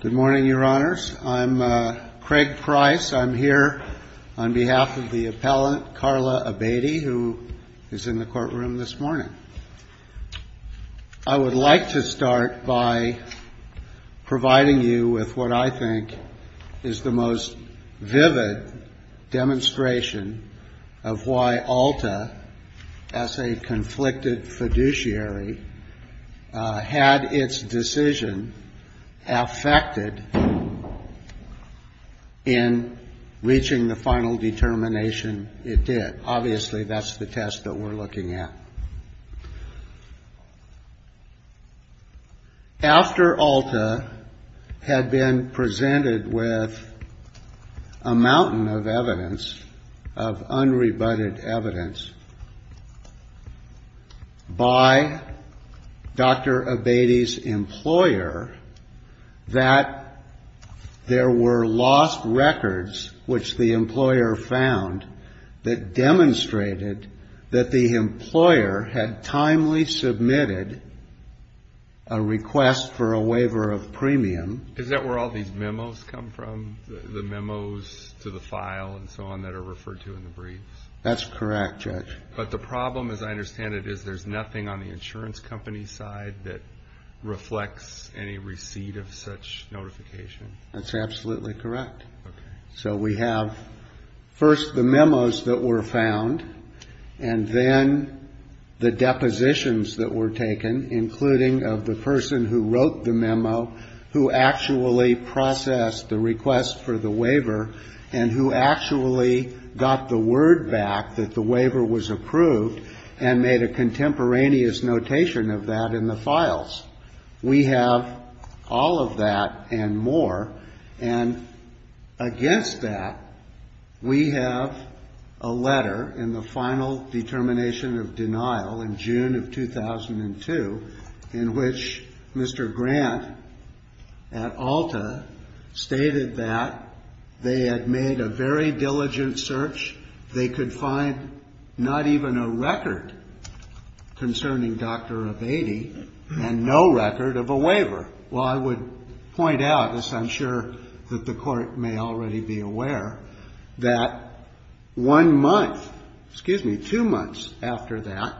Good morning, your honors. I'm Craig Price. I'm here on behalf of the appellant, Carla Abatie, who is in the courtroom this morning. I would like to start by providing you with what I think is the most vivid demonstration of why the federal judiciary had its decision affected in reaching the final determination it did. Obviously, that's the test that we're looking at. After ALTA had been presented with a mountain of evidence, of unrebutted evidence, by Dr. Abatie's employer, that there were lost records, which the employer found, that demonstrated that the employer had timely submitted a request for a waiver of premium. Is that where all these memos come from? The memos to the file and so on that are referred to in the briefs? That's correct, Judge. But the problem, as I understand it, is there's nothing on the insurance company's side that reflects any receipt of such notification. That's absolutely correct. So we have, first, the memos that were found, and then the depositions that were taken, including of the person who wrote the memo, who actually processed the request for the waiver, and who actually got the word back that the waiver was approved and made a contemporaneous notation of that in the files. We have all of that and more. And against that, we have a letter in the final determination of denial in June of 2002, in which Mr. Grant at Alta stated that they had made a very diligent search. They could find not even a record concerning Dr. Avedi and no record of a waiver. Well, I would point out, as I'm sure that the Court may already be aware, that one month, excuse me, two months after that,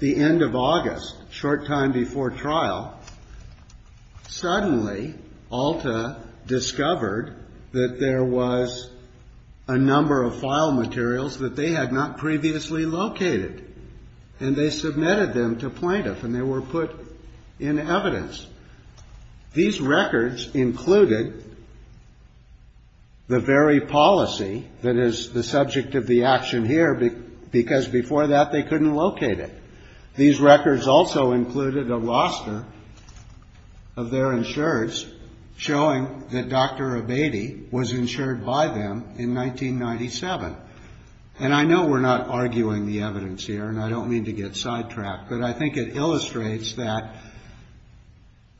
the end of August, short time before trial, suddenly Alta discovered that there was a number of file materials that they had not previously located. And they submitted them to plaintiff, and they were put in evidence. These records included the very policy that is the subject of the action here, because before that, they couldn't locate it. These records also included a roster of their insurers showing that Dr. Avedi was insured by them in 1997. And I know we're not arguing the evidence here, and I don't mean to get sidetracked, but I think it illustrates that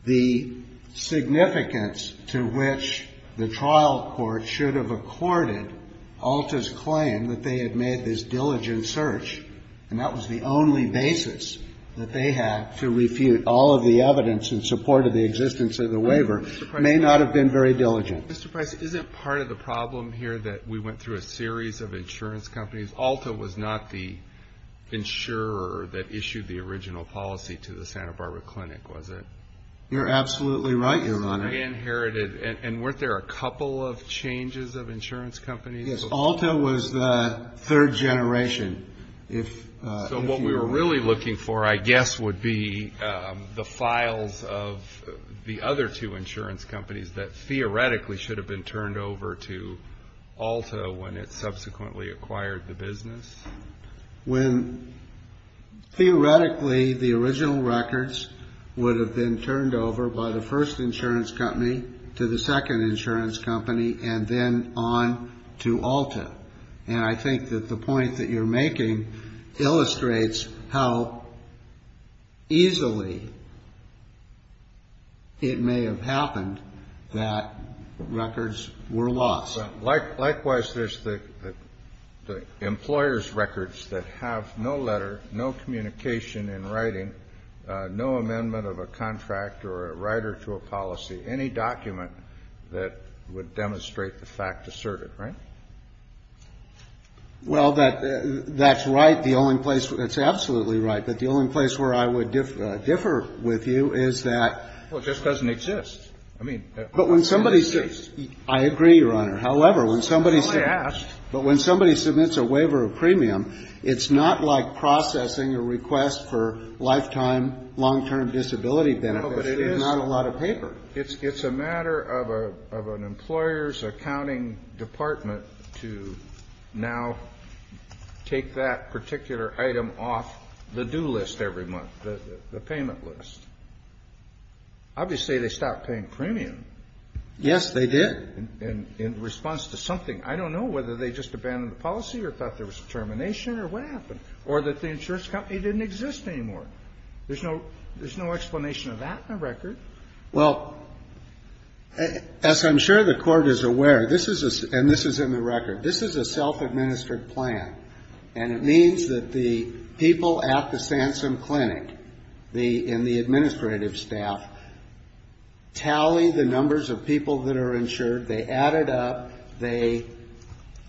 the significance to which the trial court should have accorded Alta's claim that they had made this diligent search, and that was the only basis that they had to refute all of the evidence in support of the existence of the waiver, may not have been very diligent. Mr. Price, isn't part of the problem here that we went through a series of insurance companies? Alta was not the insurer that issued the original policy to the Santa Barbara Clinic, was it? You're absolutely right, Your Honor. It was re-inherited. And weren't there a couple of changes of insurance companies? Yes, Alta was the third generation. So what we were really looking for, I guess, would be the files of the other two insurance companies that theoretically should have been turned over to Alta when it subsequently acquired the business? When theoretically the original records would have been turned over by the first insurance company to the second insurance company, and then on to Alta? And I think that the point that you're making illustrates how easily it may have happened that records were lost. Likewise, there's the employer's records that have no letter, no communication in writing, no amendment of a contract or a writer to a policy. Any document that would demonstrate the fact asserted, right? Well, that's right. The only place where it's absolutely right, but the only place where I would differ with you is that. Well, it just doesn't exist. I mean, I agree, Your Honor. However, when somebody submits a waiver of premium, it's not like processing a request for lifetime, No, but it is. It's not a lot of paper. It's a matter of an employer's accounting department to now take that particular item off the do list every month, the payment list. Obviously, they stopped paying premium. Yes, they did. And in response to something, I don't know whether they just abandoned the policy or thought there was termination or what happened, or that the insurance company didn't exist anymore. There's no explanation of that in the record. Well, as I'm sure the Court is aware, and this is in the record, this is a self-administered plan. And it means that the people at the Sansum Clinic and the administrative staff tally the numbers of people that are insured. They add it up. They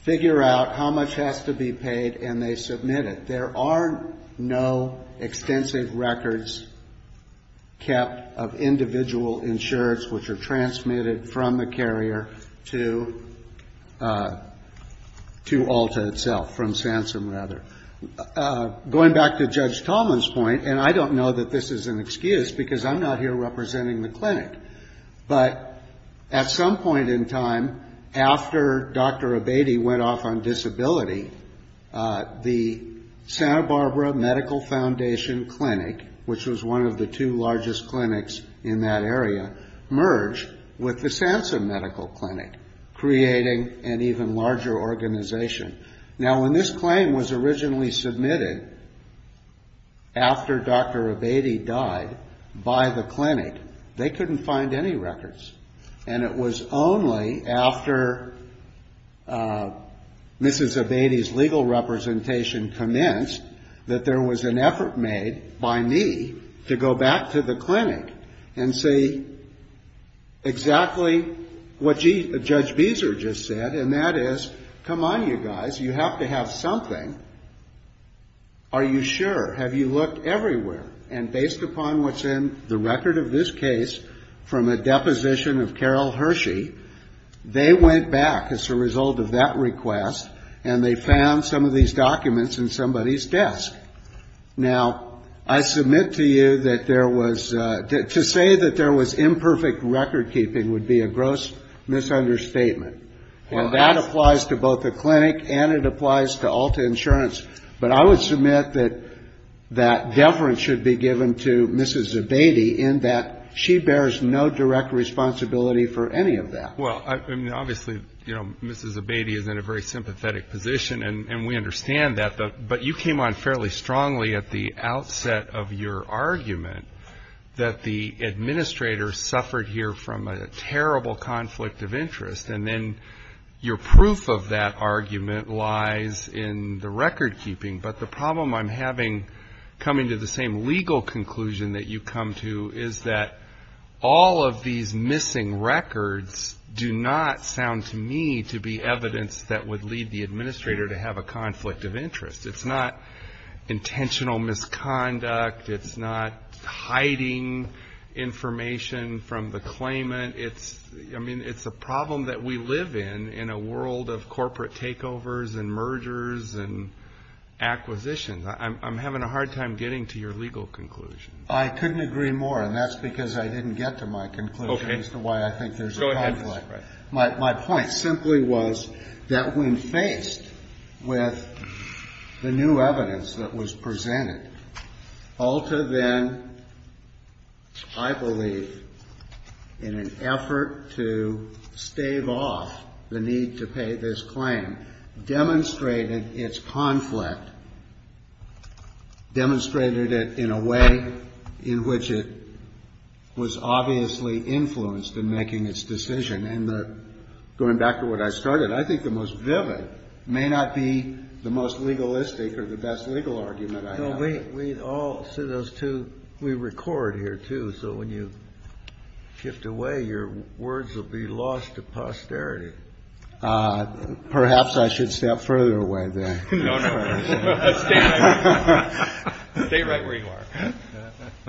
figure out how much has to be paid, and they submit it. There are no extensive records kept of individual insurance, which are transmitted from the carrier to ALTA itself, from Sansum, rather. Going back to Judge Tallman's point, and I don't know that this is an excuse, because I'm not here representing the clinic. But at some point in time, after Dr. Abate went off on disability, the Santa Barbara Medical Foundation Clinic, which was one of the two largest clinics in that area, merged with the Sansum Medical Clinic, creating an even larger organization. Now, when this claim was originally submitted after Dr. Abate died by the clinic, they couldn't find any records. And it was only after Mrs. Abate's legal representation commenced that there was an effort made by me to go back to the clinic and see exactly what Judge Beezer just said, and that is, come on, you guys. You have to have something. Are you sure? Have you looked everywhere? And based upon what's in the record of this case, from a deposition of Carol Hershey, they went back as a result of that request, and they found some of these documents in somebody's desk. Now, I submit to you that there was, to say that there was imperfect record keeping would be a gross misunderstatement. And that applies to both the clinic, and it applies to Alta Insurance. But I would submit that that deference should be given to Mrs. Abate in that she bears no direct responsibility for any of that. Well, obviously, Mrs. Abate is in a very sympathetic position, and we understand that. But you came on fairly strongly at the outset of your argument that the administrator suffered here from a terrible conflict of interest. And then your proof of that argument lies in the record keeping. But the problem I'm having coming to the same legal conclusion that you come to is that all of these missing records do not sound to me to be evidence that would lead the administrator to have a conflict of interest. It's not intentional misconduct. It's not hiding information from the claimant. I mean, it's a problem that we live in, in a world of corporate takeovers, and mergers, and acquisitions. I'm having a hard time getting to your legal conclusion. I couldn't agree more, and that's because I didn't get to my conclusion as to why I think there's a conflict. My point simply was that when faced with the new evidence that was presented, Alta then, I believe, in an effort to stave off the need to pay this claim, demonstrated its conflict, demonstrated it in a way in which it was obviously influenced in making its decision. And going back to what I started, I think the most vivid may not be the most legalistic or the best legal argument I have. We all see those two. We record here, too. So when you shift away, your words will be lost to posterity. Perhaps I should step further away, then. No, no, stay right where you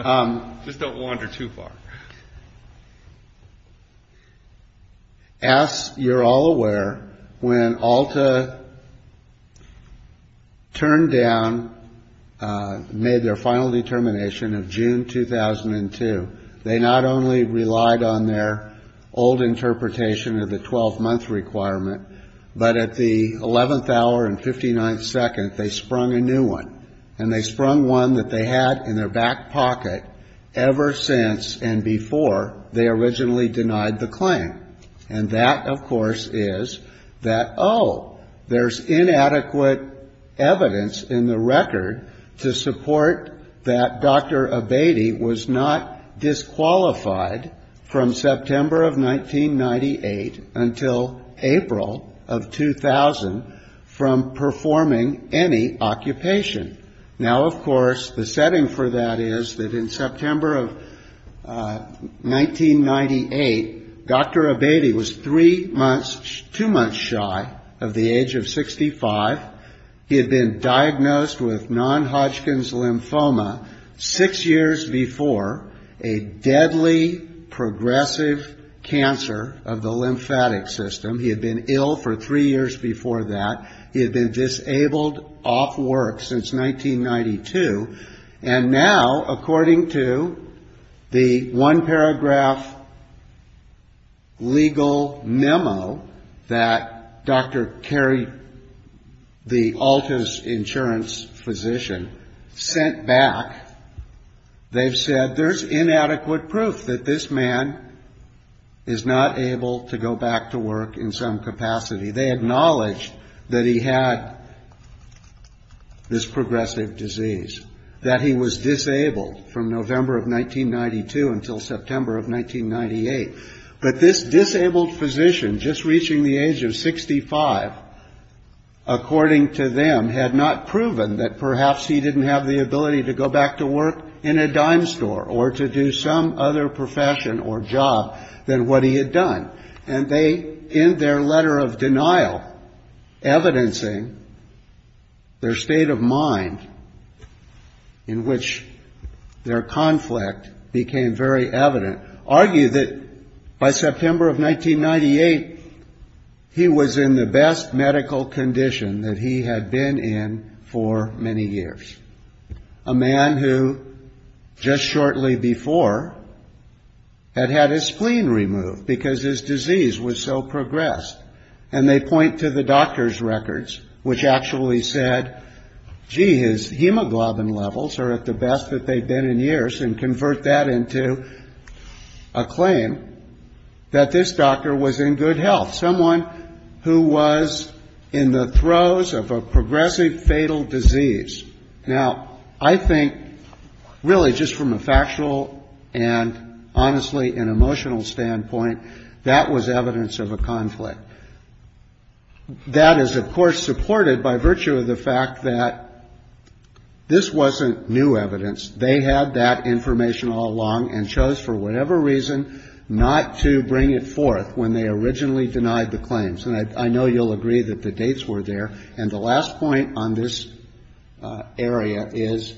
are. Just don't wander too far. As you're all aware, when Alta turned down, made their final determination of June 2002, they not only relied on their old interpretation of the 12-month requirement, but at the 11th hour and 59th second, they sprung a new one. And they sprung one that they had in their back pocket ever since and before they originally denied the claim. And that, of course, is that, oh, there's inadequate evidence in the record to support that Dr. Abatey was not disqualified from September of 1998 until April of 2000 from performing any occupation. Now, of course, the setting for that is that in September of 1998, Dr. Abatey was three months, two months shy of the age of 65. He had been diagnosed with non-Hodgkin's lymphoma six years before, a deadly progressive cancer of the lymphatic system. He had been ill for three years before that. He had been disabled off work since 1992. And now, according to the one paragraph legal memo that Dr. Kerry, the Alta's insurance physician, sent back, they've said there's inadequate proof that this man is not able to go back to work in some capacity. They acknowledged that he had this progressive disease, that he was disabled from November of 1992 until September of 1998. But this disabled physician, just reaching the age of 65, according to them, had not proven that perhaps he didn't have the ability to go back to work in a dime store or to do some other profession or job than what he had done. And they, in their letter of denial, evidencing their state of mind, in which their conflict became very evident, argued that by September of 1998, he was in the best medical condition that he had been in for many years. A man who, just shortly before, had had his spleen removed because his disease was so progressed. And they point to the doctor's records, which actually said, gee, his hemoglobin levels are at the best that they've been in years. And convert that into a claim that this doctor was in good health. Someone who was in the throes of a progressive fatal disease. Now, I think, really, just from a factual and honestly an emotional standpoint, that was evidence of a conflict. That is, of course, supported by virtue of the fact that this wasn't new evidence. They had that information all along and chose, for whatever reason, not to bring it forth when they originally denied the claims. And I know you'll agree that the dates were there. And the last point on this area is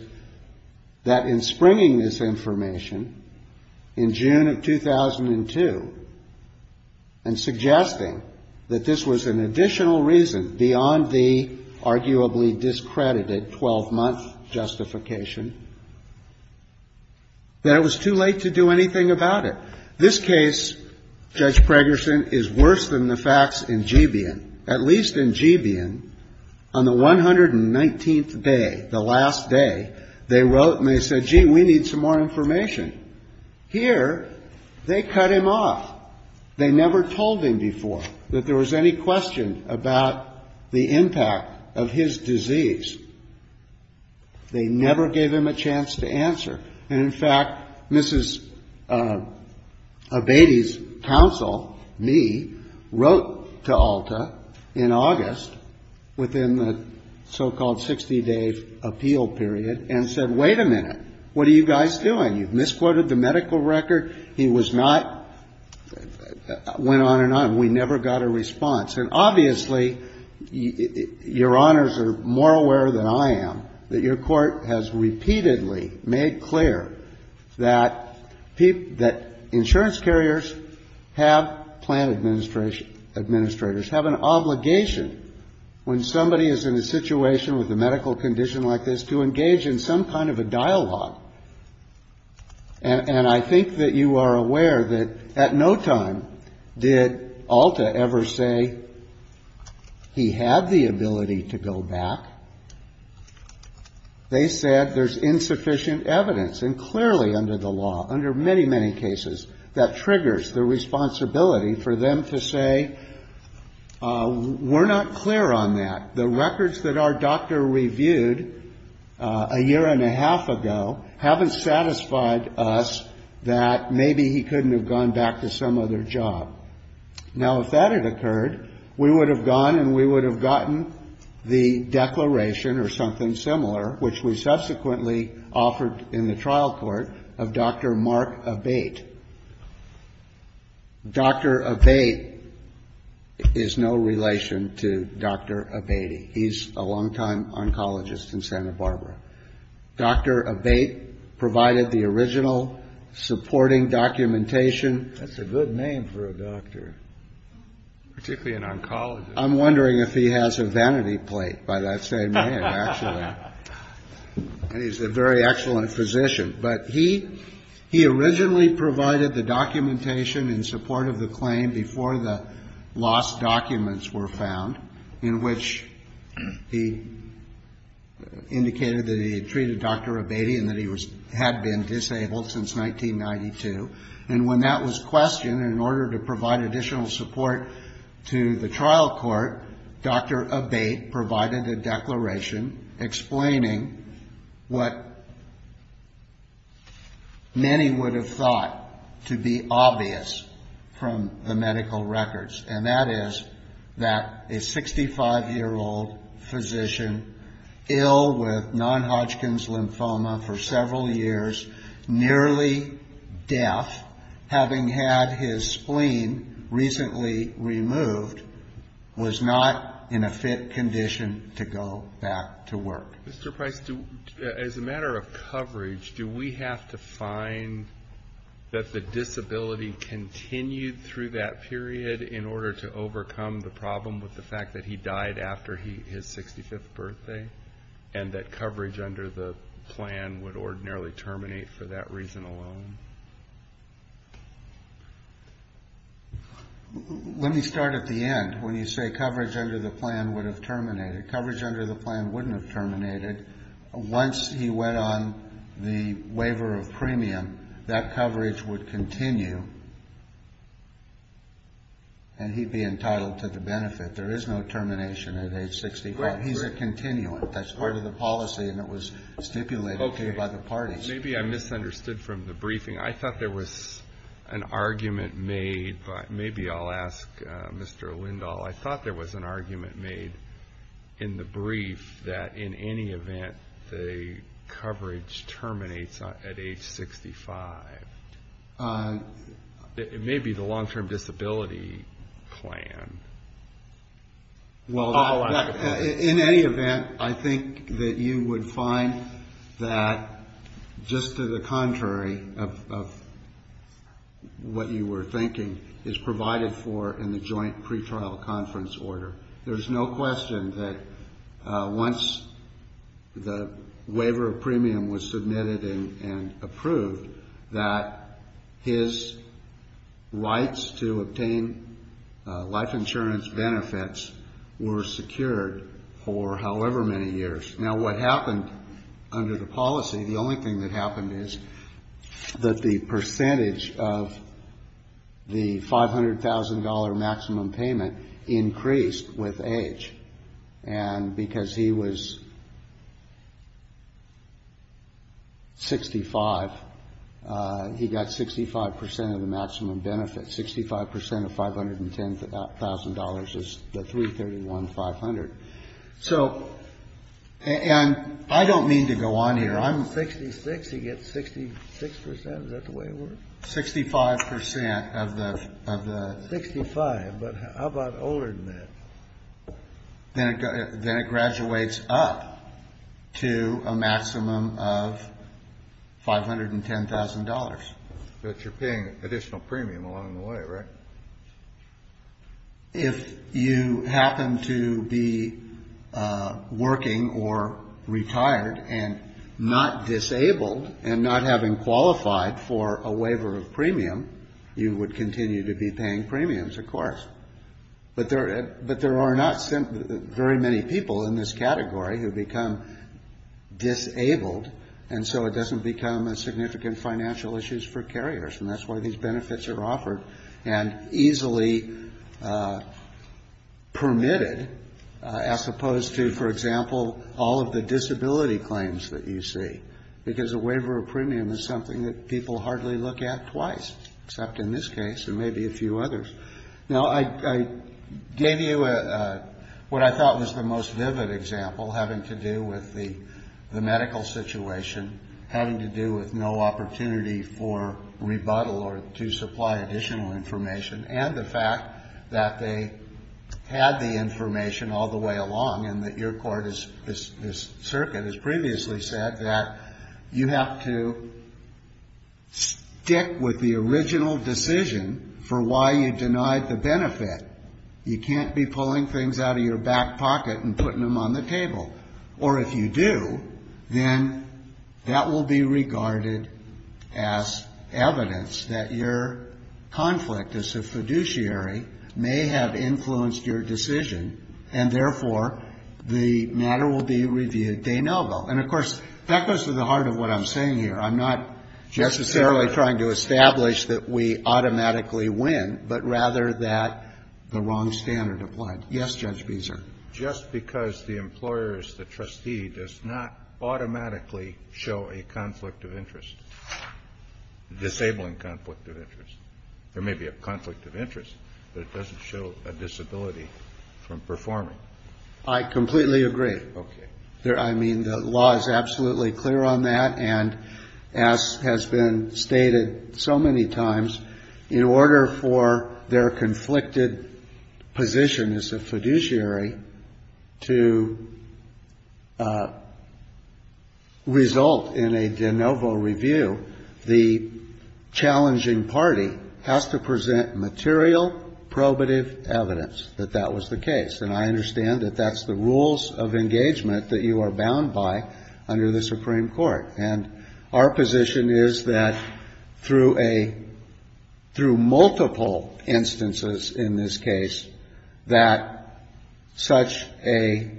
that in springing this information in June of 2002 and suggesting that this was an additional reason beyond the arguably discredited 12-month justification, that it was too late to do anything about it. This case, Judge Pregerson, is worse than the facts in Gebeon. At least in Gebeon, on the 119th day, the last day, they wrote and they said, gee, we need some more information. Here, they cut him off. They never told him before that there was any question about the impact of his disease. They never gave him a chance to answer. And in fact, Mrs. Abatey's counsel, me, wrote to Alta in August within the so-called 60-day appeal period and said, wait a minute. What are you guys doing? You've misquoted the medical record. He was not, went on and on. We never got a response. And obviously, your honors are more aware than I am that your court has repeatedly made clear that insurance carriers have, plant administrators, have an obligation when somebody is in a situation with a medical condition like this to engage in some kind of a dialogue. And I think that you are aware that at no time did Alta ever say he had the ability to go back. They said there's insufficient evidence, and clearly under the law, under many, many cases, that triggers the responsibility for them to say, we're not clear on that. The records that our doctor reviewed a year and a half ago haven't satisfied us that maybe he couldn't have gone back to some other job. Now, if that had occurred, we would have gone and we would have gotten the declaration, or something similar, which we subsequently offered in the trial court, of Dr. Mark Abate. Dr. Abate is no relation to Dr. Abate. He's a longtime oncologist in Santa Barbara. Dr. Abate provided the original supporting documentation. That's a good name for a doctor, particularly an oncologist. I'm wondering if he has a vanity plate by that same name, actually. He's a very excellent physician. But he originally provided the documentation in support of the claim before the lost documents were found, in which he indicated that he had treated Dr. Abate and that he had been disabled since 1992. And when that was questioned, in order to provide additional support to the trial court, Dr. Abate provided a declaration explaining what many would have thought to be obvious from the medical records. And that is that a 65-year-old physician, ill with non-Hodgkin's lymphoma for several years, nearly deaf, having had his spleen recently removed, was not in a fit condition to go back to work. Mr. Price, as a matter of coverage, do we have to find that the disability continued through that period in order to overcome the problem with the fact that he died after his 65th birthday and that coverage under the plan would ordinarily terminate for that reason alone? Let me start at the end. When you say coverage under the plan would have terminated, coverage under the plan wouldn't have terminated. Once he went on the waiver of premium, that coverage would continue. And he'd be entitled to the benefit. There is no termination at age 65. He's a continuant. That's part of the policy. And it was stipulated by the parties. Maybe I misunderstood from the briefing. I thought there was an argument made. Maybe I'll ask Mr. Lindahl. I thought there was an argument made in the brief that in any event, the coverage terminates at age 65. It may be the long-term disability plan. Well, in any event, I think that you would find that just to the contrary of what you were thinking is provided for in the joint pretrial conference order. There's no question that once the waiver of premium was submitted and approved, that his rights to obtain life insurance benefits were secured for however many years. Now, what happened under the policy, the only thing that happened is that the percentage of the $500,000 maximum payment increased with age. And because he was 65, he got 65% of the maximum benefit. 65% of $510,000 is the 331,500. So and I don't mean to go on here. I'm 66. He gets 66%. Is that the way it works? 65% of the. 65. But how about older than that? Then it graduates up to a maximum of $510,000. But you're paying additional premium along the way, right? If you happen to be working or retired and not disabled and not having qualified for a waiver of premium, you would continue to be paying premiums, of course. But there are not very many people in this category who become disabled. And so it doesn't become a significant financial issues for carriers. And that's why these benefits are offered and easily permitted as opposed to, for example, all of the disability claims that you see. Because a waiver of premium is something that people hardly look at twice, except in this case and maybe a few others. Now, I gave you what I thought was the most vivid example having to do with the medical situation, having to do with no opportunity for rebuttal or to supply additional information, and the fact that they had the information all the way along and that your court, this circuit, has previously said that you have to stick with the original decision for why you denied the benefit. You can't be pulling things out of your back pocket and putting them on the table. Or if you do, then that will be regarded as evidence that your conflict as a fiduciary may have influenced your decision, and therefore, the matter will be reviewed de novo. And of course, that goes to the heart of what I'm saying here. I'm not necessarily trying to establish that we automatically win, but rather that the wrong standard applied. Yes, Judge Beeser? Just because the employer is the trustee does not automatically show a conflict of interest, disabling conflict of interest. There may be a conflict of interest, but it doesn't show a disability from performing. I completely agree. I mean, the law is absolutely clear on that, and as has been stated so many times, in order for their conflicted position as a fiduciary to result in a de novo review, the challenging party has to present material probative evidence that that was the case. And I understand that that's the rules of engagement that you are bound by under the Supreme Court. And our position is that, through multiple instances in this case, that such a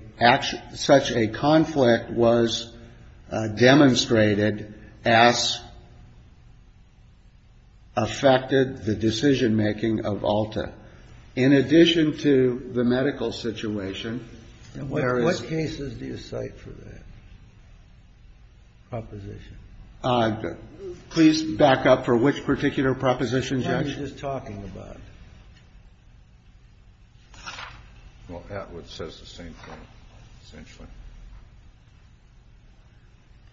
conflict was demonstrated as affected the decision-making of ALTA. In addition to the medical situation, where it's What cases do you cite for that? Proposition. Please back up for which particular proposition, Judge? The one you're just talking about. Well, Atwood says the same thing, essentially.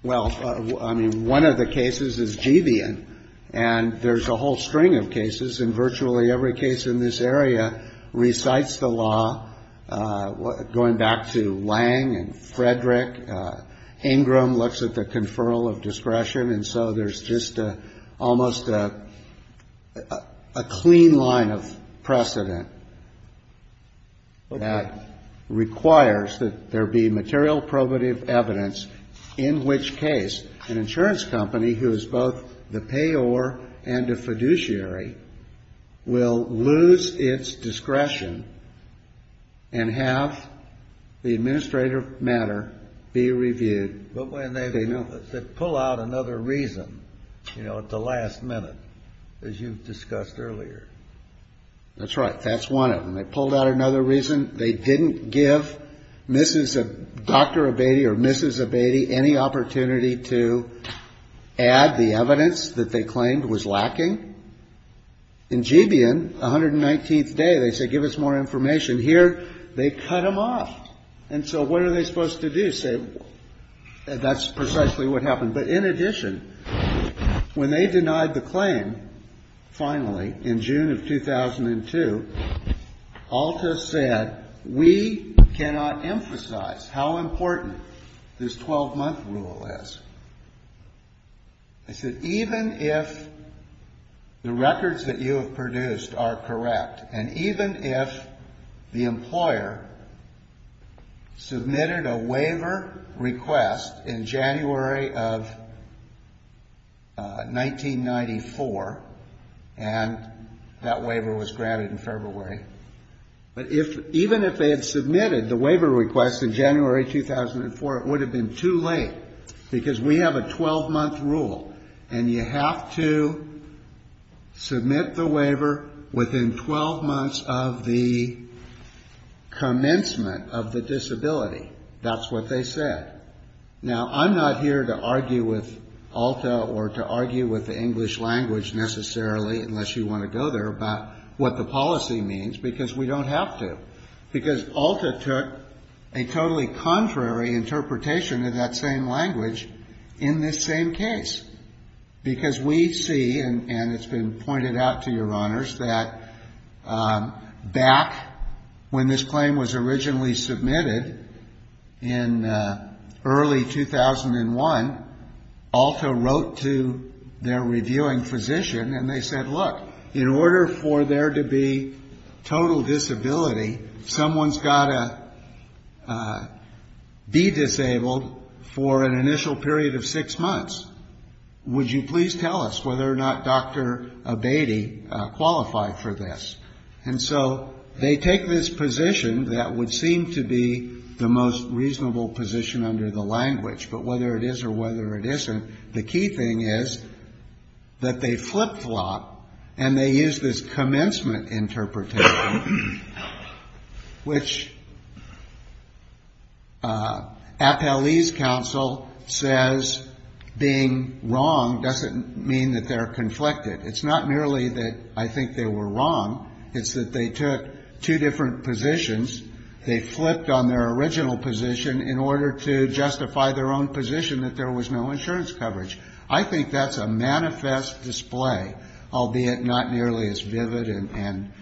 Well, I mean, one of the cases is Gevion, and there's a whole string of cases, and virtually every case in this area recites the law. Going back to Lange and Frederick, Ingram looks at the conferral of discretion, and so there's just almost a clean line of precedent that requires that there be material probative evidence in which case an insurance company, who is both the payor and a fiduciary, will lose its discretion and have the administrative matter be reviewed. But when they pull out another reason at the last minute, as you've discussed earlier. That's right. That's one of them. They pulled out another reason. They didn't give Dr. Abatey or Mrs. Abatey any opportunity to add the evidence that they claimed was lacking. In Gevion, 119th day, they say, give us more information. Here, they cut them off. And so what are they supposed to do? That's precisely what happened. But in addition, when they denied the claim, finally, in June of 2002, Alta said, we cannot emphasize how important this 12-month rule is. I said, even if the records that you have produced are correct, and even if the employer submitted a waiver request in January of 1994, and that waiver was granted in February, but even if they had submitted the waiver request in January 2004, it would have been too late, because we have a 12-month rule. And you have to submit the waiver within 12 months of the commencement of the disability. That's what they said. Now, I'm not here to argue with Alta or to argue with the English language, necessarily, unless you want to go there, about what the policy means, because we don't have to. Because Alta took a totally contrary interpretation of that same language in this same case. Because we see, and it's been pointed out to your honors, that back when this claim was originally submitted in early 2001, Alta wrote to their reviewing physician, and they said, look, in order for there to be total disability, someone's got to be disabled for an initial period of six months. Would you please tell us whether or not Dr. Abatey qualified for this? And so they take this position that would seem to be the most reasonable position under the language. But whether it is or whether it isn't, the key thing is that they flip-flop, and they use this commencement interpretation, which Appellee's counsel says being wrong doesn't mean that they're conflicted. It's not merely that I think they were wrong. It's that they took two different positions. They flipped on their original position in order to justify their own position that there was no insurance coverage. I think that's a manifest display, albeit not nearly as vivid and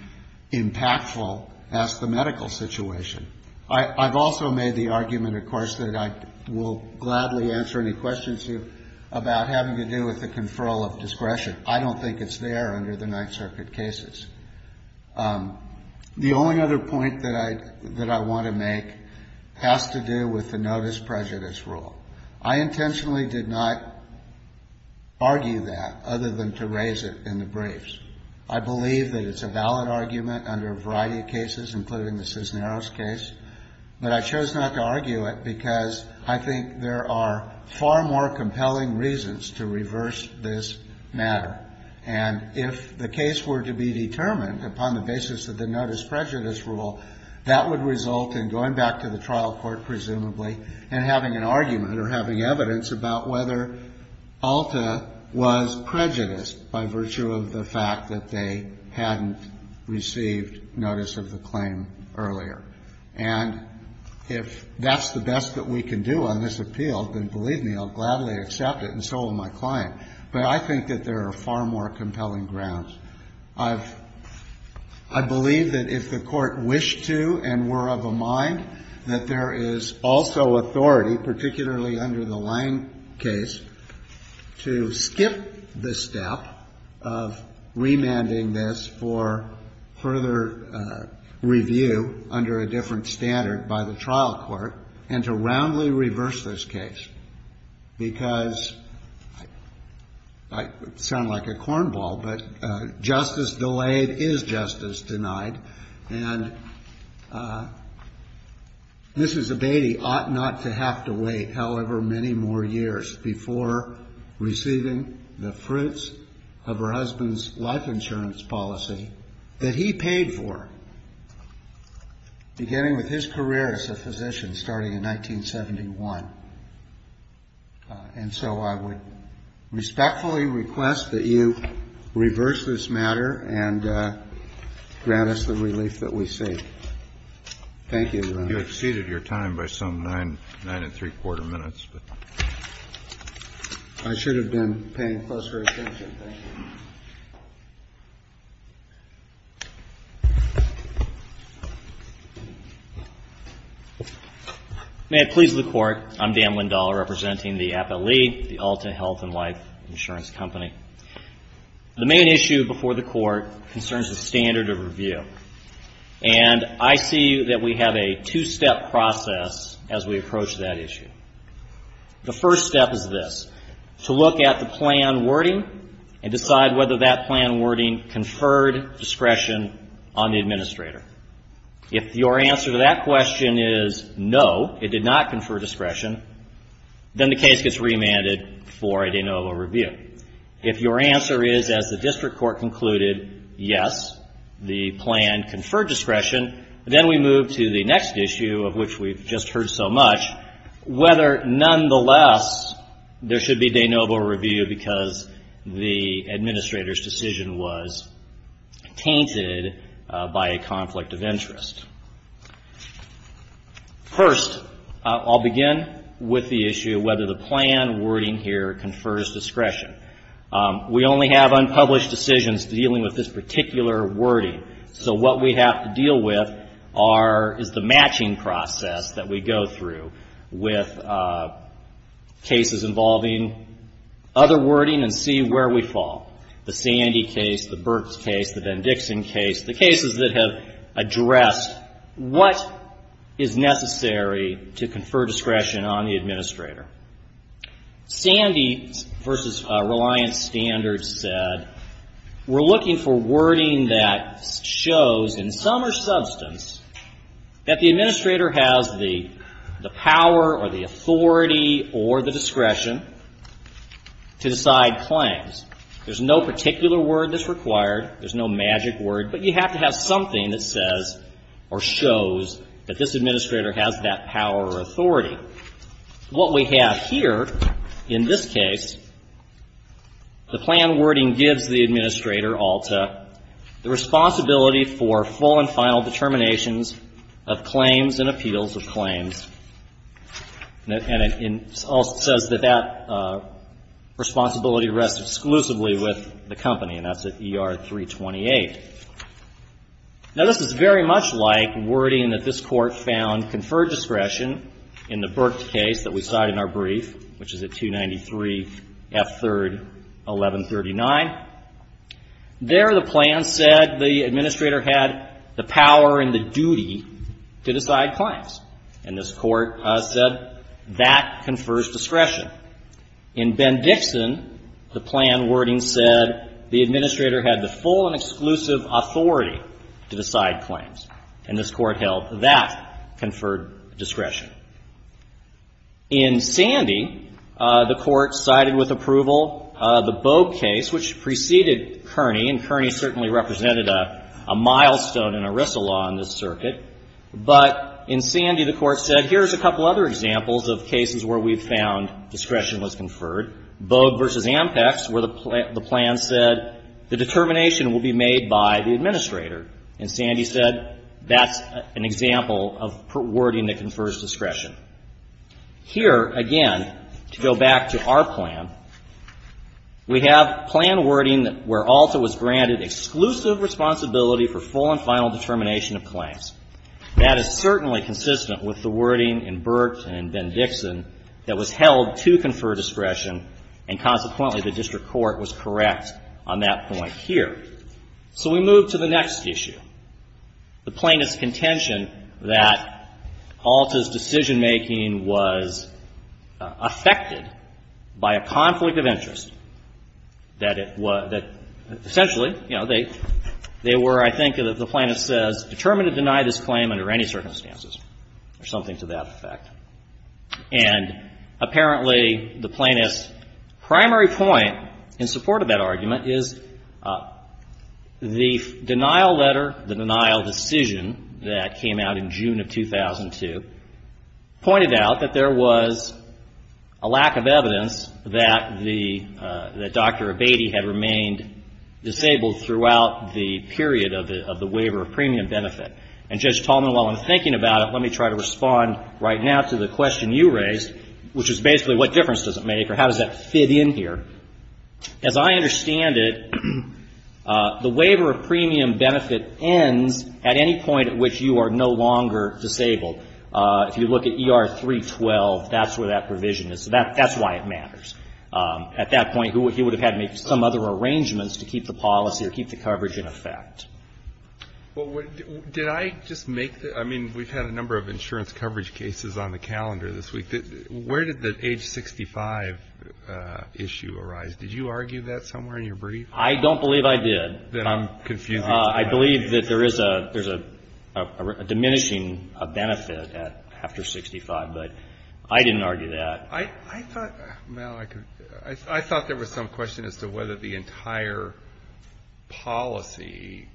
impactful as the medical situation. I've also made the argument, of course, that I will gladly answer any questions you about having to do with the conferral of discretion. I don't think it's there under the Ninth Circuit cases. The only other point that I want to make has to do with the notice prejudice rule. I intentionally did not argue that other than to raise it in the briefs. I believe that it's a valid argument under a variety of cases, including the Cisneros case. But I chose not to argue it because I think there are far more compelling reasons to reverse this matter. And if the case were to be determined upon the basis of the notice prejudice rule, that would result in going back to the trial court, presumably, and having an argument or having evidence about whether Alta was prejudiced by virtue of the fact that they hadn't received notice of the claim earlier. And if that's the best that we can do on this appeal, then believe me, I'll gladly accept it. And so will my client. But I think that there are far more compelling grounds. I believe that if the court wished to and were of a mind, that there is also authority, particularly under the Lange case, to skip the step of remanding this for further review under a different standard by the trial court and to roundly reverse this case. Because it might sound like a cornball, but justice delayed is justice denied. And Mrs. Abatey ought not to have to wait, however, many more years before receiving the fruits of her husband's life insurance policy that he paid for, beginning with his career as a physician starting in 1971. And so I would respectfully request that you reverse this matter and grant us the relief that we see. Thank you, Your Honor. You exceeded your time by some 9 and 3 quarter minutes. I should have been paying closer attention. Thank you. May it please the court, I'm Dan Windahl representing the Appellee, the Alta Health and Life Insurance Company. The main issue before the court concerns the standard of review. And I see that we have a two-step process as we approach that issue. The first step is this, to look at the plan wording and decide whether that plan wording conferred discretion on the administrator. If your answer to that question is no, it did not confer discretion, then the case gets remanded for a de novo review. If your answer is, as the district court concluded, yes, the plan conferred discretion, then we move to the next issue of which we've just heard so much, whether, nonetheless, there should be de novo review because the administrator's decision was tainted by a conflict of interest. First, I'll begin with the issue of whether the plan wording here confers discretion. We only have unpublished decisions dealing with this particular wording. So what we have to deal with is the matching process that we go through with cases involving other wording and see where we fall. The Sandy case, the Burks case, the Van Dixon case, the cases that have addressed what is necessary to confer discretion on the administrator. Sandy versus Reliance Standards said, we're looking for wording that shows, in some or substance, that the administrator has the power or the authority or the discretion to decide claims. There's no particular word that's required. There's no magic word. But you have to have something that says or shows that this administrator has that power or authority. What we have here, in this case, the plan wording gives the administrator, ALTA, the responsibility for full and final determinations of claims and appeals of claims. And it also says that that responsibility rests exclusively with the company. And that's at ER 328. Now, this is very much like wording that this court found conferred discretion in the Burks case that we cite in our brief, which is at 293 F3rd 1139. There, the plan said the administrator had the power and the duty to decide claims. And this court said, that confers discretion. In Bendixson, the plan wording said the administrator had the full and exclusive authority to decide claims. And this court held that conferred discretion. In Sandy, the court cited with approval the Bogue case, which preceded Kearney. And Kearney certainly represented a milestone in ERISA law in this circuit. But in Sandy, the court said, here's a couple other examples of cases where we've found discretion was conferred. Bogue versus Ampex, where the plan said the determination will be made by the administrator. And Sandy said, that's an example of wording that confers discretion. Here, again, to go back to our plan, we have plan wording where also was granted exclusive responsibility for full and final determination of claims. That is certainly consistent with the wording in Burt and Bendixson that was held to confer discretion. And consequently, the district court was correct on that point here. So we move to the next issue. The plaintiff's contention that Alta's decision-making was affected by a conflict of interest, that it was that essentially, you know, they were, I think, the plaintiff says, determined to deny this claim under any circumstances, or something to that effect. And apparently, the plaintiff's primary point in support of that argument is the denial letter, the denial decision that came out in June of 2002, pointed out that there was a lack of evidence that Dr. Abatey had remained disabled throughout the period of the waiver of premium benefit. And Judge Tallman, while I'm thinking about it, let me try to respond right now to the question you raised, which is basically, what difference does it make, or how does that fit in here? As I understand it, the waiver of premium benefit ends at any point at which you are no longer disabled. If you look at ER 312, that's where that provision is. So that's why it matters. At that point, he would have had to make some other arrangements to keep the policy, or keep the coverage in effect. Well, did I just make the... I mean, we've had a number of insurance coverage cases on the calendar this week. Where did the age 65 issue arise? Did you argue that somewhere in your brief? I don't believe I did. Then I'm confusing you. I believe that there is a diminishing benefit after 65, but I didn't argue that. I thought, Mal, I thought there was some question as to whether the entire policy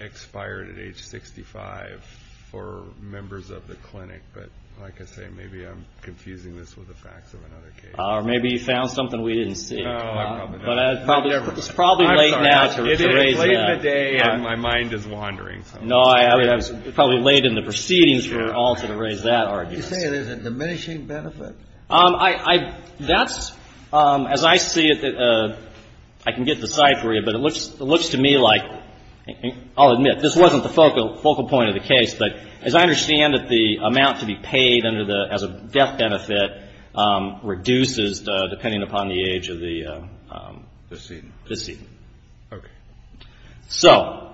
expired at age 65 for members of the clinic. But like I say, maybe I'm confusing this with the facts of another case. Or maybe you found something we didn't see. No, I probably didn't. But it's probably late now to raise that. It is late in the day, and my mind is wandering. No, I mean, it was probably late in the proceedings for all to raise that argument. You say there's a diminishing benefit? That's, as I see it, I can get to the side for you, but it looks to me like, I'll admit, this wasn't the focal point of the case, but as I understand it, the amount to be paid under the, as a death benefit, reduces depending upon the age of the... Decedent. Decedent. Okay. So,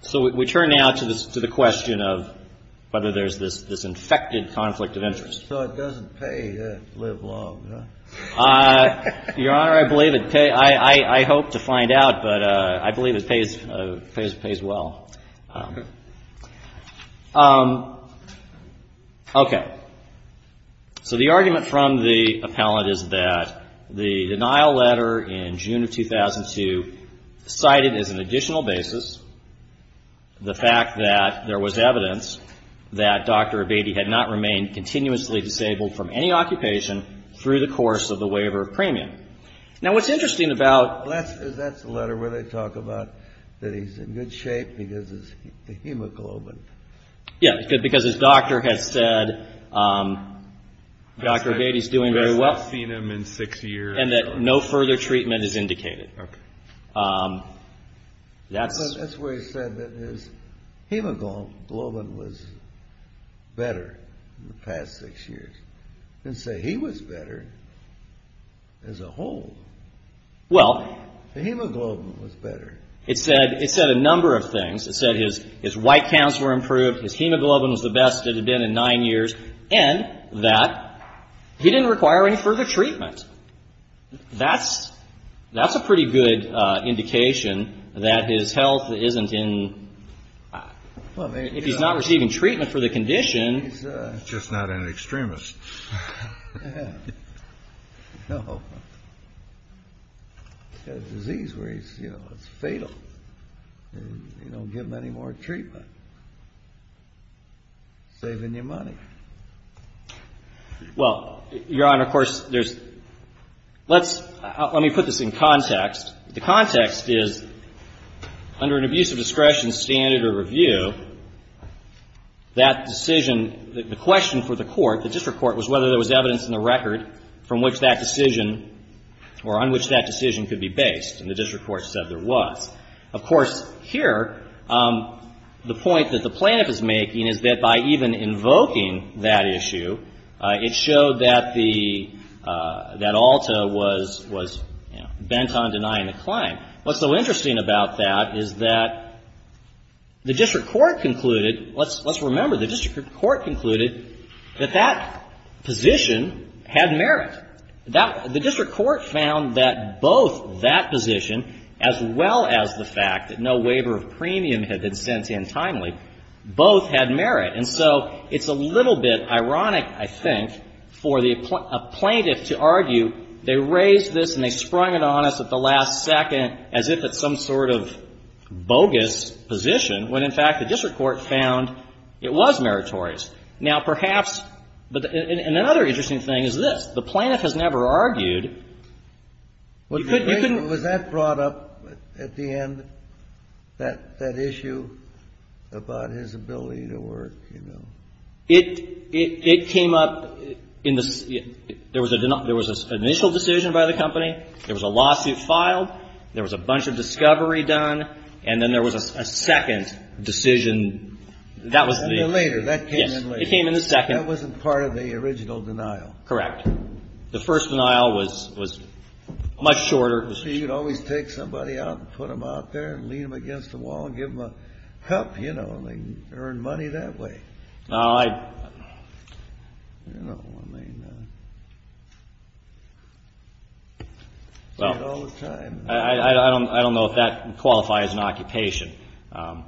so we turn now to the question of whether there's this infected conflict of interest. So it doesn't pay that live long, no? Your Honor, I believe it, I hope to find out, but I believe it pays well. Okay. So the argument from the appellant is that the denial letter in June of 2002 cited as an additional basis the fact that there was evidence that Dr. Abatey had not remained continuously disabled from any occupation through the course of the waiver of premium. Now what's interesting about... That's the letter where they talk about that he's in good shape because of the hemoglobin. Yeah, because his doctor has said Dr. Abatey's doing very well. I've seen him in six years. And that no further treatment is indicated. Okay. That's... He was better in the past six years. And say he was better as a whole. Well... The hemoglobin was better. It said, it said a number of things. It said his white counts were improved. His hemoglobin was the best it had been in nine years. And that he didn't require any further treatment. That's, that's a pretty good indication that his health isn't in... If he's not receiving treatment for the condition... He's just not an extremist. He's got a disease where he's, you know, it's fatal. You don't give him any more treatment. Saving you money. Well, Your Honor, of course, there's... Let's, let me put this in context. The context is under an abuse of discretion standard or review, that decision, the question for the court, the district court, was whether there was evidence in the record from which that decision, or on which that decision could be based. And the district court said there was. Of course, here, the point that the plaintiff is making is that by even invoking that issue, it showed that the, that Alta was, was bent on denying the claim. What's so interesting about that is that the district court concluded, let's remember the district court concluded that that position had merit. The district court found that both that position, as well as the fact that no waiver of premium had been sent in timely, both had merit. And so it's a little bit ironic, I think, for the plaintiff to argue, they raised this and they sprung it on us at the last second as if it's some sort of bogus position, when in fact the district court found it was meritorious. Now, perhaps, and another interesting thing is this, the plaintiff has never argued. You couldn't- Was that brought up at the end, that issue about his ability to work, you know? It came up in the, there was an initial decision by the company, there was a lawsuit filed, there was a bunch of discovery done, and then there was a second decision. That was the- And then later, that came in later. Yes, it came in the second. That wasn't part of the original denial. Correct. The first denial was much shorter. So you'd always take somebody out and put them out there and lean them against the wall and give them a help, you know, and they'd earn money that way. No, I, you know, I mean, yeah. Well- See it all the time. I don't know if that qualifies an occupation. I'm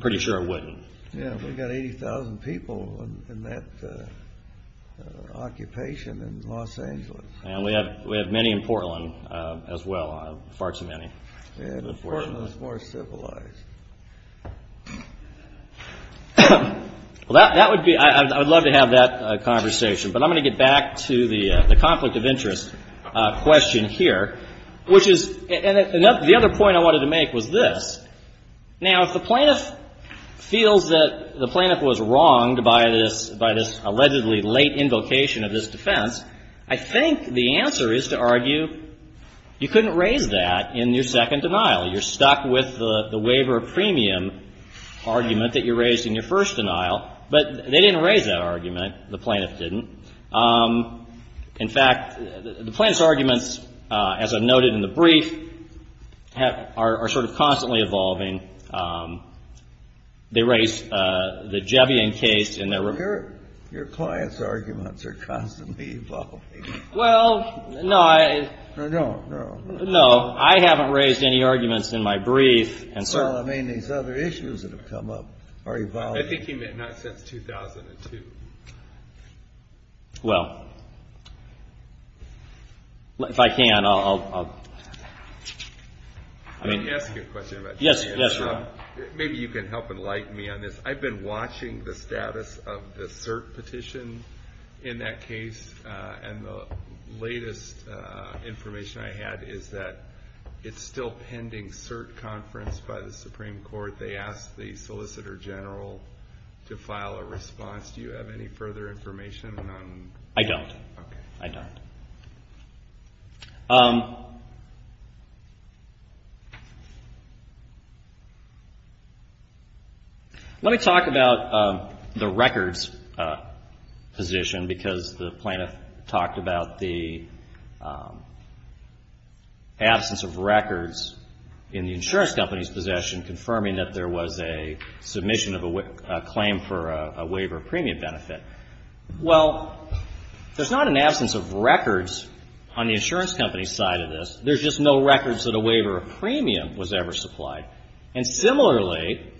pretty sure it wouldn't. Yeah, we've got 80,000 people in that occupation in Los Angeles. And we have many in Portland as well, far too many. Yeah, but Portland's more civilized. Well, that would be, I'd love to have that conversation, but I'm gonna get back to the conflict of interest question here, which is, and the other point I wanted to make was this. Now, if the plaintiff feels that the plaintiff was wronged by this allegedly late invocation of this defense, I think the answer is to argue you couldn't raise that in your second denial. You're stuck with the waiver premium argument that you raised in your first denial, but they didn't raise that argument. The plaintiff didn't. In fact, the plaintiff's arguments, as I've noted in the brief, have, are sort of constantly evolving. They raised the Jevian case, and there were- Your client's arguments are constantly evolving. Well, no, I- No, no, no. No, I haven't raised any arguments in my brief, and so- Well, I mean, these other issues that have come up are evolving. I think he meant not since 2002. Well, if I can, I'll... I mean- Let me ask you a question about Jevian. Yes, yes, go on. Maybe you can help enlighten me on this. I've been watching the status of the cert petition in that case, and the latest information I had is that it's still pending cert conference by the Supreme Court. They asked the Solicitor General to file a response. Do you have any further information on- I don't. Okay. I don't. Let me talk about the records position, because the plaintiff talked about the absence of records in the insurance company's possession, confirming that there was a submission of a claim for a waiver of premium benefit. Well, there's not an absence of records on the insurance company's side of this. There's just no records that a waiver of premium was ever supplied, and similarly,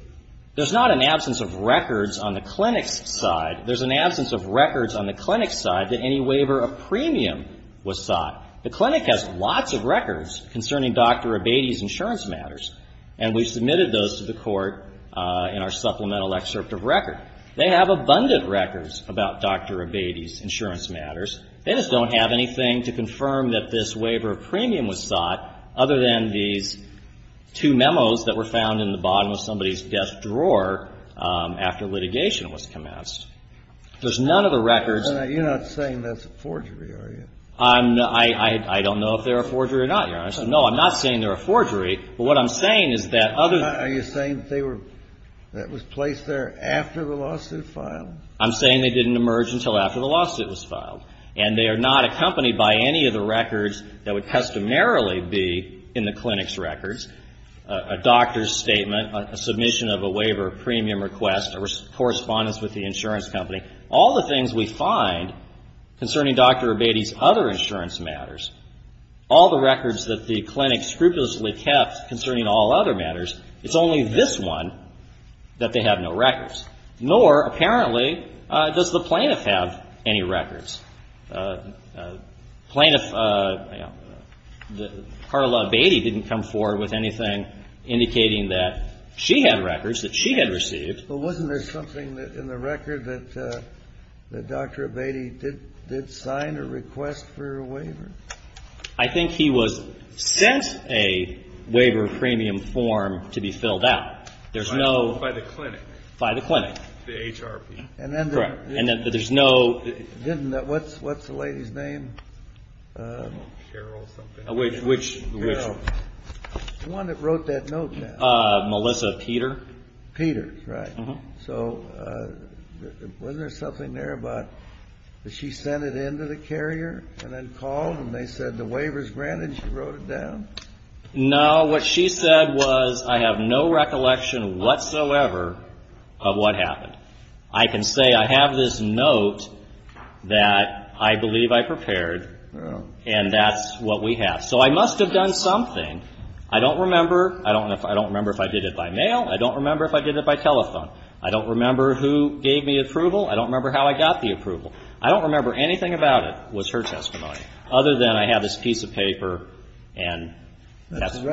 there's not an absence of records on the clinic's side. There's an absence of records on the clinic's side that any waiver of premium was sought. The clinic has lots of records concerning Dr. Abate's insurance matters, and we submitted those to the court in our supplemental excerpt of record. They have abundant records about Dr. Abate's insurance matters. They just don't have anything to confirm that this waiver of premium was sought other than these two memos that were found in the bottom of somebody's desk drawer after litigation was commenced. There's none of the records- You're not saying that's a forgery, are you? I don't know if they're a forgery or not, Your Honor. I said, no, I'm not saying they're a forgery, but what I'm saying is that other- Are you saying that they were, that was placed there after the lawsuit filed? I'm saying they didn't emerge until after the lawsuit was filed, and they are not accompanied by any of the records that would customarily be in the clinic's records, a doctor's statement, a submission of a waiver of premium request, a correspondence with the insurance company. All the things we find concerning Dr. Abate's other insurance matters, all the records that the clinic scrupulously kept concerning all other matters, it's only this one that they have no records. Nor, apparently, does the plaintiff have any records. Plaintiff, Carla Abate didn't come forward with anything indicating that she had records that she had received. But wasn't there something in the record that Dr. Abate did sign a request for a waiver? I think he was sent a waiver of premium form to be filled out. There's no- By the clinic. By the clinic. The HRP. And then- Correct. And then there's no- What's the lady's name? Carol or something. Which? Carol. The one that wrote that note down. Melissa Peter. Peter, right. So, wasn't there something there about that she sent it in to the carrier and then called and they said the waiver's granted, she wrote it down? No, what she said was, I have no recollection whatsoever of what happened. I can say I have this note that I believe I prepared, and that's what we have. So, I must have done something. I don't remember. I don't remember if I did it by mail. I don't remember if I did it by telephone. I don't remember who gave me approval. I don't remember how I got the approval. I don't remember anything about it was her testimony, other than I have this piece of paper and- That was a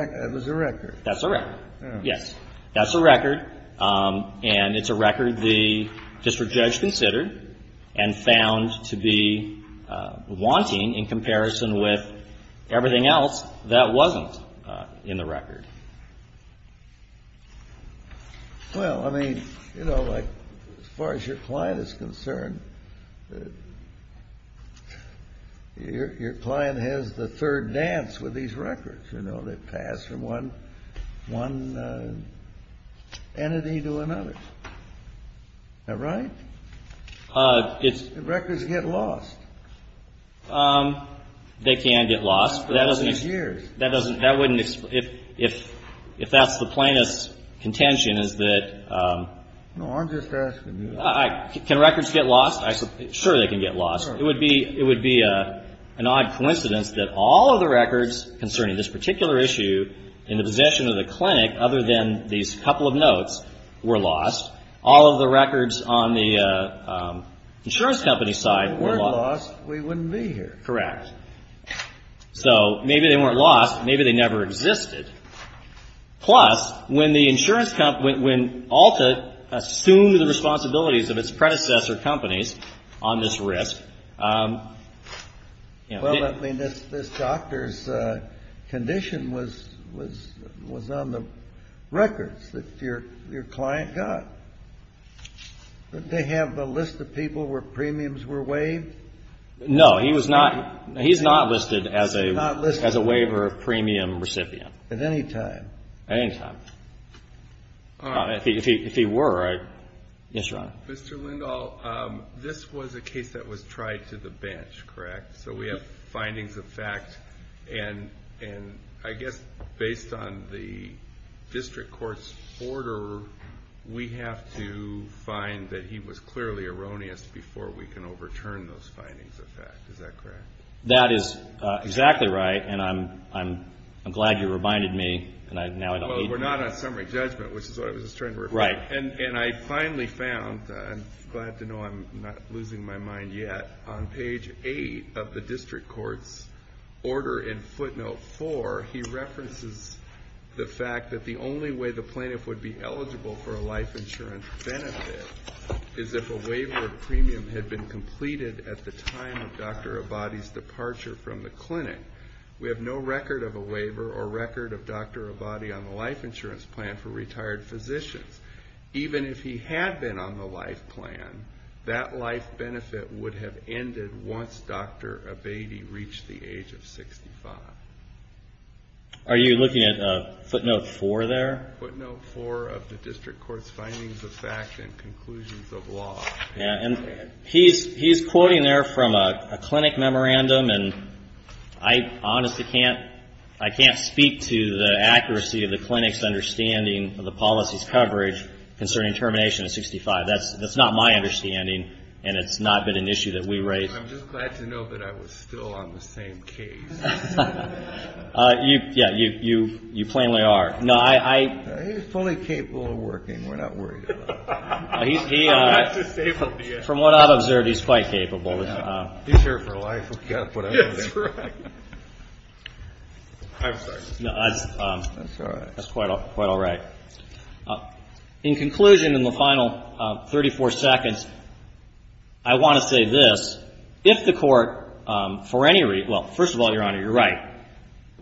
record. That's a record, yes. That's a record, and it's a record the district judge considered and found to be wanting in comparison with everything else that wasn't in the record. Well, I mean, as far as your client is concerned, your client has the third dance with these records, you know, that pass from one entity to another. Is that right? Records get lost. They can get lost. For all these years. That wouldn't, if that's the plaintiff's contention, is that- No, I'm just asking you. Can records get lost? Sure, they can get lost. It would be an odd coincidence that all of the records concerning this particular issue in the possession of the clinic, other than these couple of notes, were lost. All of the records on the insurance company's side- If they weren't lost, we wouldn't be here. Correct. So maybe they weren't lost. Maybe they never existed. Plus, when the insurance company, when Alta assumed the responsibilities of its predecessor companies on this risk- Well, I mean, this doctor's condition was on the records that your client got. Didn't they have a list of people where premiums were waived? No, he was not. He's not listed as a waiver of premium recipient. At any time? At any time. If he were, I'd- Yes, Your Honor. Mr. Lindahl, this was a case that was tried to the bench, correct? So we have findings of fact, and I guess based on the district court's order, we have to find that he was clearly erroneous before we can overturn those findings of fact. Is that correct? That is exactly right, and I'm glad you reminded me, and now I don't need- Well, we're not on summary judgment, which is what I was just trying to- Right. And I finally found, I'm glad to know I'm not losing my mind yet, on page eight of the district court's order in footnote four, he references the fact that the only way the plaintiff would be eligible for a life insurance benefit is if a waiver of premium had been completed at the time of Dr. Abate's departure from the clinic. We have no record of a waiver or record of Dr. Abate on the life insurance plan for retired physicians. Even if he had been on the life plan, that life benefit would have ended once Dr. Abate reached the age of 65. Are you looking at footnote four there? Footnote four of the district court's findings of fact and conclusions of law. Yeah, and he's quoting there from a clinic memorandum, and I honestly can't, I can't speak to the accuracy of the clinic's understanding of the policy's coverage concerning termination at 65. That's not my understanding, and it's not been an issue that we raised. I'm just glad to know that I was still on the same case. You, yeah, you plainly are. No, I- He's fully capable of working. We're not worried about it. He, from what I've observed, he's quite capable. He's here for life. We've got to put up with everything. That's right. I'm sorry. No, that's quite all right. In conclusion, in the final 34 seconds, I want to say this. If the court, for any reason, well, first of all, Your Honor, you're right.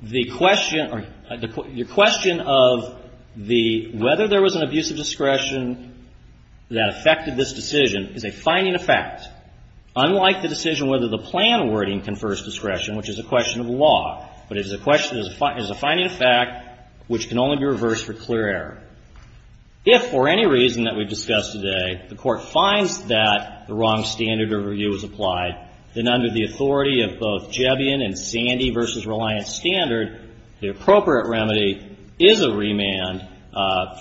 The question, your question of the, whether there was an abuse of discretion that affected this decision is a finding of fact. Unlike the decision whether the plan wording confers discretion, which is a question of law, but it is a finding of fact, which can only be reversed for clear error. If, for any reason that we've discussed today, the court finds that the wrong standard of review was applied, then under the authority of both Jebian and Sandy versus Reliance Standard, the appropriate remedy is a remand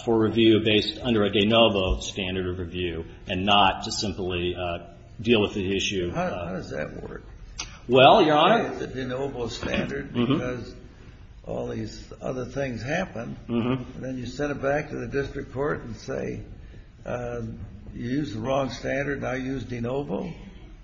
for review based under a de novo standard of review and not to simply deal with the issue. How does that work? Well, Your Honor. Why is it de novo standard? Because all these other things happen. Then you send it back to the district court and say, you used the wrong standard. Now use de novo.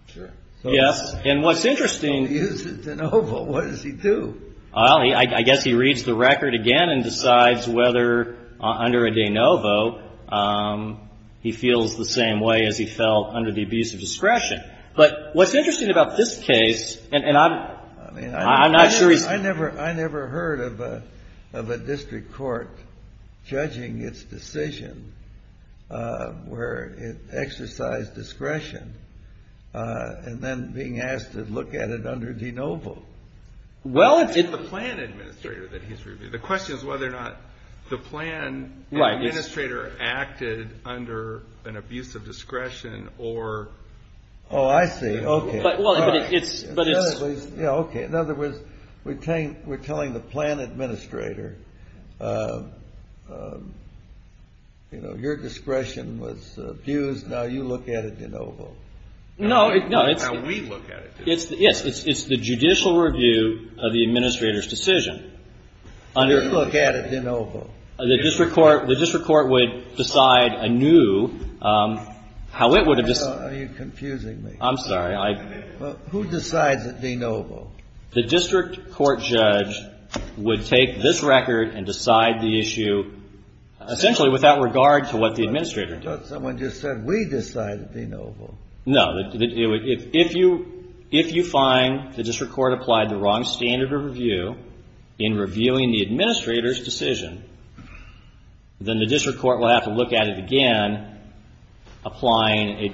Sure. Yes, and what's interesting. He uses de novo. What does he do? Well, I guess he reads the record again and decides whether under a de novo, he feels the same way as he felt under the abuse of discretion. But what's interesting about this case, and I'm not sure he's. I never heard of a district court judging its decision where it exercised discretion and then being asked to look at it under de novo. Well, it's. The plan administrator that he's reviewed. The question is whether or not the plan administrator acted under an abuse of discretion or. Oh, I see. Okay. But it's. But it's. Yeah, okay. In other words, we're telling the plan administrator, you know, your discretion was abused. Now you look at it de novo. No, no, it's. Now we look at it de novo. Yes, it's the judicial review of the administrator's decision. We look at it de novo. The district court would decide anew how it would have. Are you confusing me? I'm sorry. Who decides it de novo? The district court judge would take this record and decide the issue essentially without regard to what the administrator did. I thought someone just said we decide it de novo. No, if you find the district court applied the wrong standard of review in reviewing the administrator's decision, then the district court will have to look at it again, applying,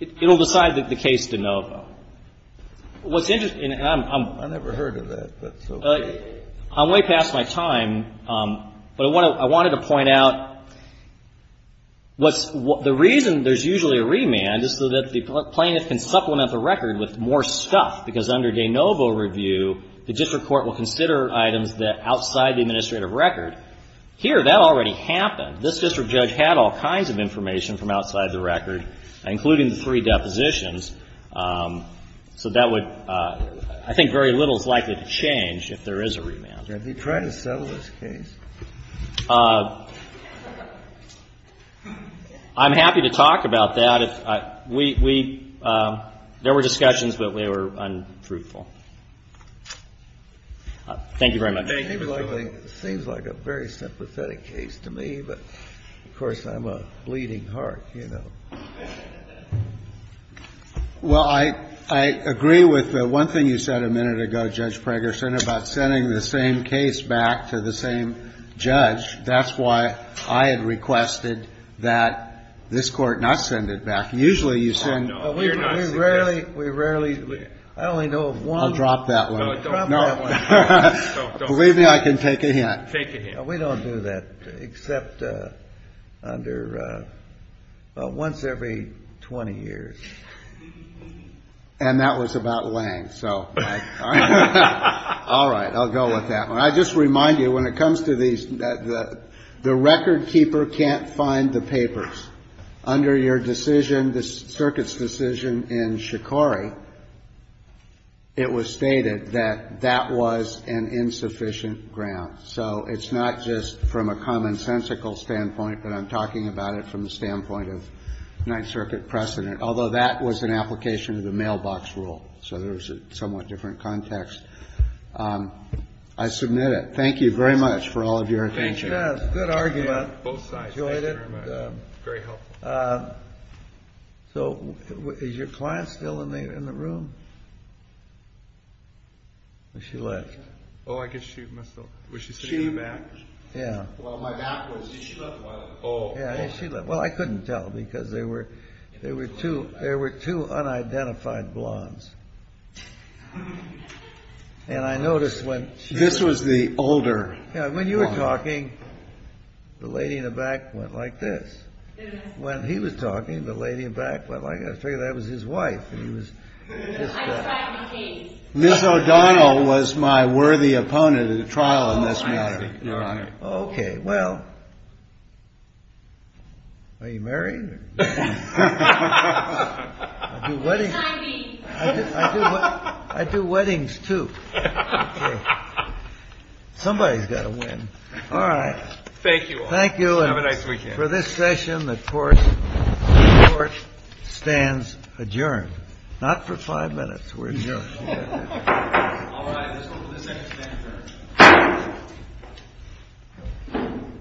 it'll decide that the case de novo. What's interesting, and I'm. I never heard of that, but so. I'm way past my time. But I wanted to point out what's, the reason there's usually a remand is so that the plaintiff can supplement the record with more stuff, because under de novo review, the district court will consider items that outside the administrative record. Here, that already happened. This district judge had all kinds of information from outside the record, including the three depositions. So that would, I think very little is likely to change if there is a remand. Are they trying to settle this case? I'm happy to talk about that. There were discussions, but they were untruthful. Thank you very much. Thank you. Seems like a very sympathetic case to me, but of course, I'm a bleeding heart, you know. Well, I agree with the one thing you said a minute ago, Judge Pregerson, about sending the same case back to the same judge. That's why I had requested that this court not send it back. Usually, you send- Oh, no, we are not sending it back. We rarely, I only know of one. I'll drop that one. No, don't. Drop that one. Don't, don't. Believe me, I can take a hint. Take a hint. We don't do that, except under, well, once every 20 years. And that was about Lange, so. All right. All right, I'll go with that one. I just remind you, when it comes to these, the record keeper can't find the papers. Under your decision, the circuit's decision in Shikori, it was stated that that was an insufficient ground. So it's not just from a commonsensical standpoint, but I'm talking about it from the standpoint of Ninth Circuit precedent, although that was an application of the mailbox rule. So there's a somewhat different context. I submit it. Thank you very much for all of your attention. Yes, good argument. Both sides, thank you very much. Enjoyed it. Very helpful. So is your client still in the room? She left. Oh, I guess she must have, was she sitting in the back? Yeah. Well, my back was, she left. Oh. Yeah, she left. Well, I couldn't tell because there were two, there were two unidentified blondes. And I noticed when she was. This was the older. Yeah, when you were talking, the lady in the back went like this. When he was talking, the lady in the back went like this. I figured that was his wife and he was. Ms. O'Donnell was my worthy opponent at a trial in this matter, Your Honor. Okay, well, are you married? No. No. I do weddings. No, it's not me. I do weddings too. Somebody's got to win. All right. Thank you all. Thank you. Have a nice weekend. For this session, the court stands adjourned. Not for five minutes, we're adjourned. All right, let's go to the second stand.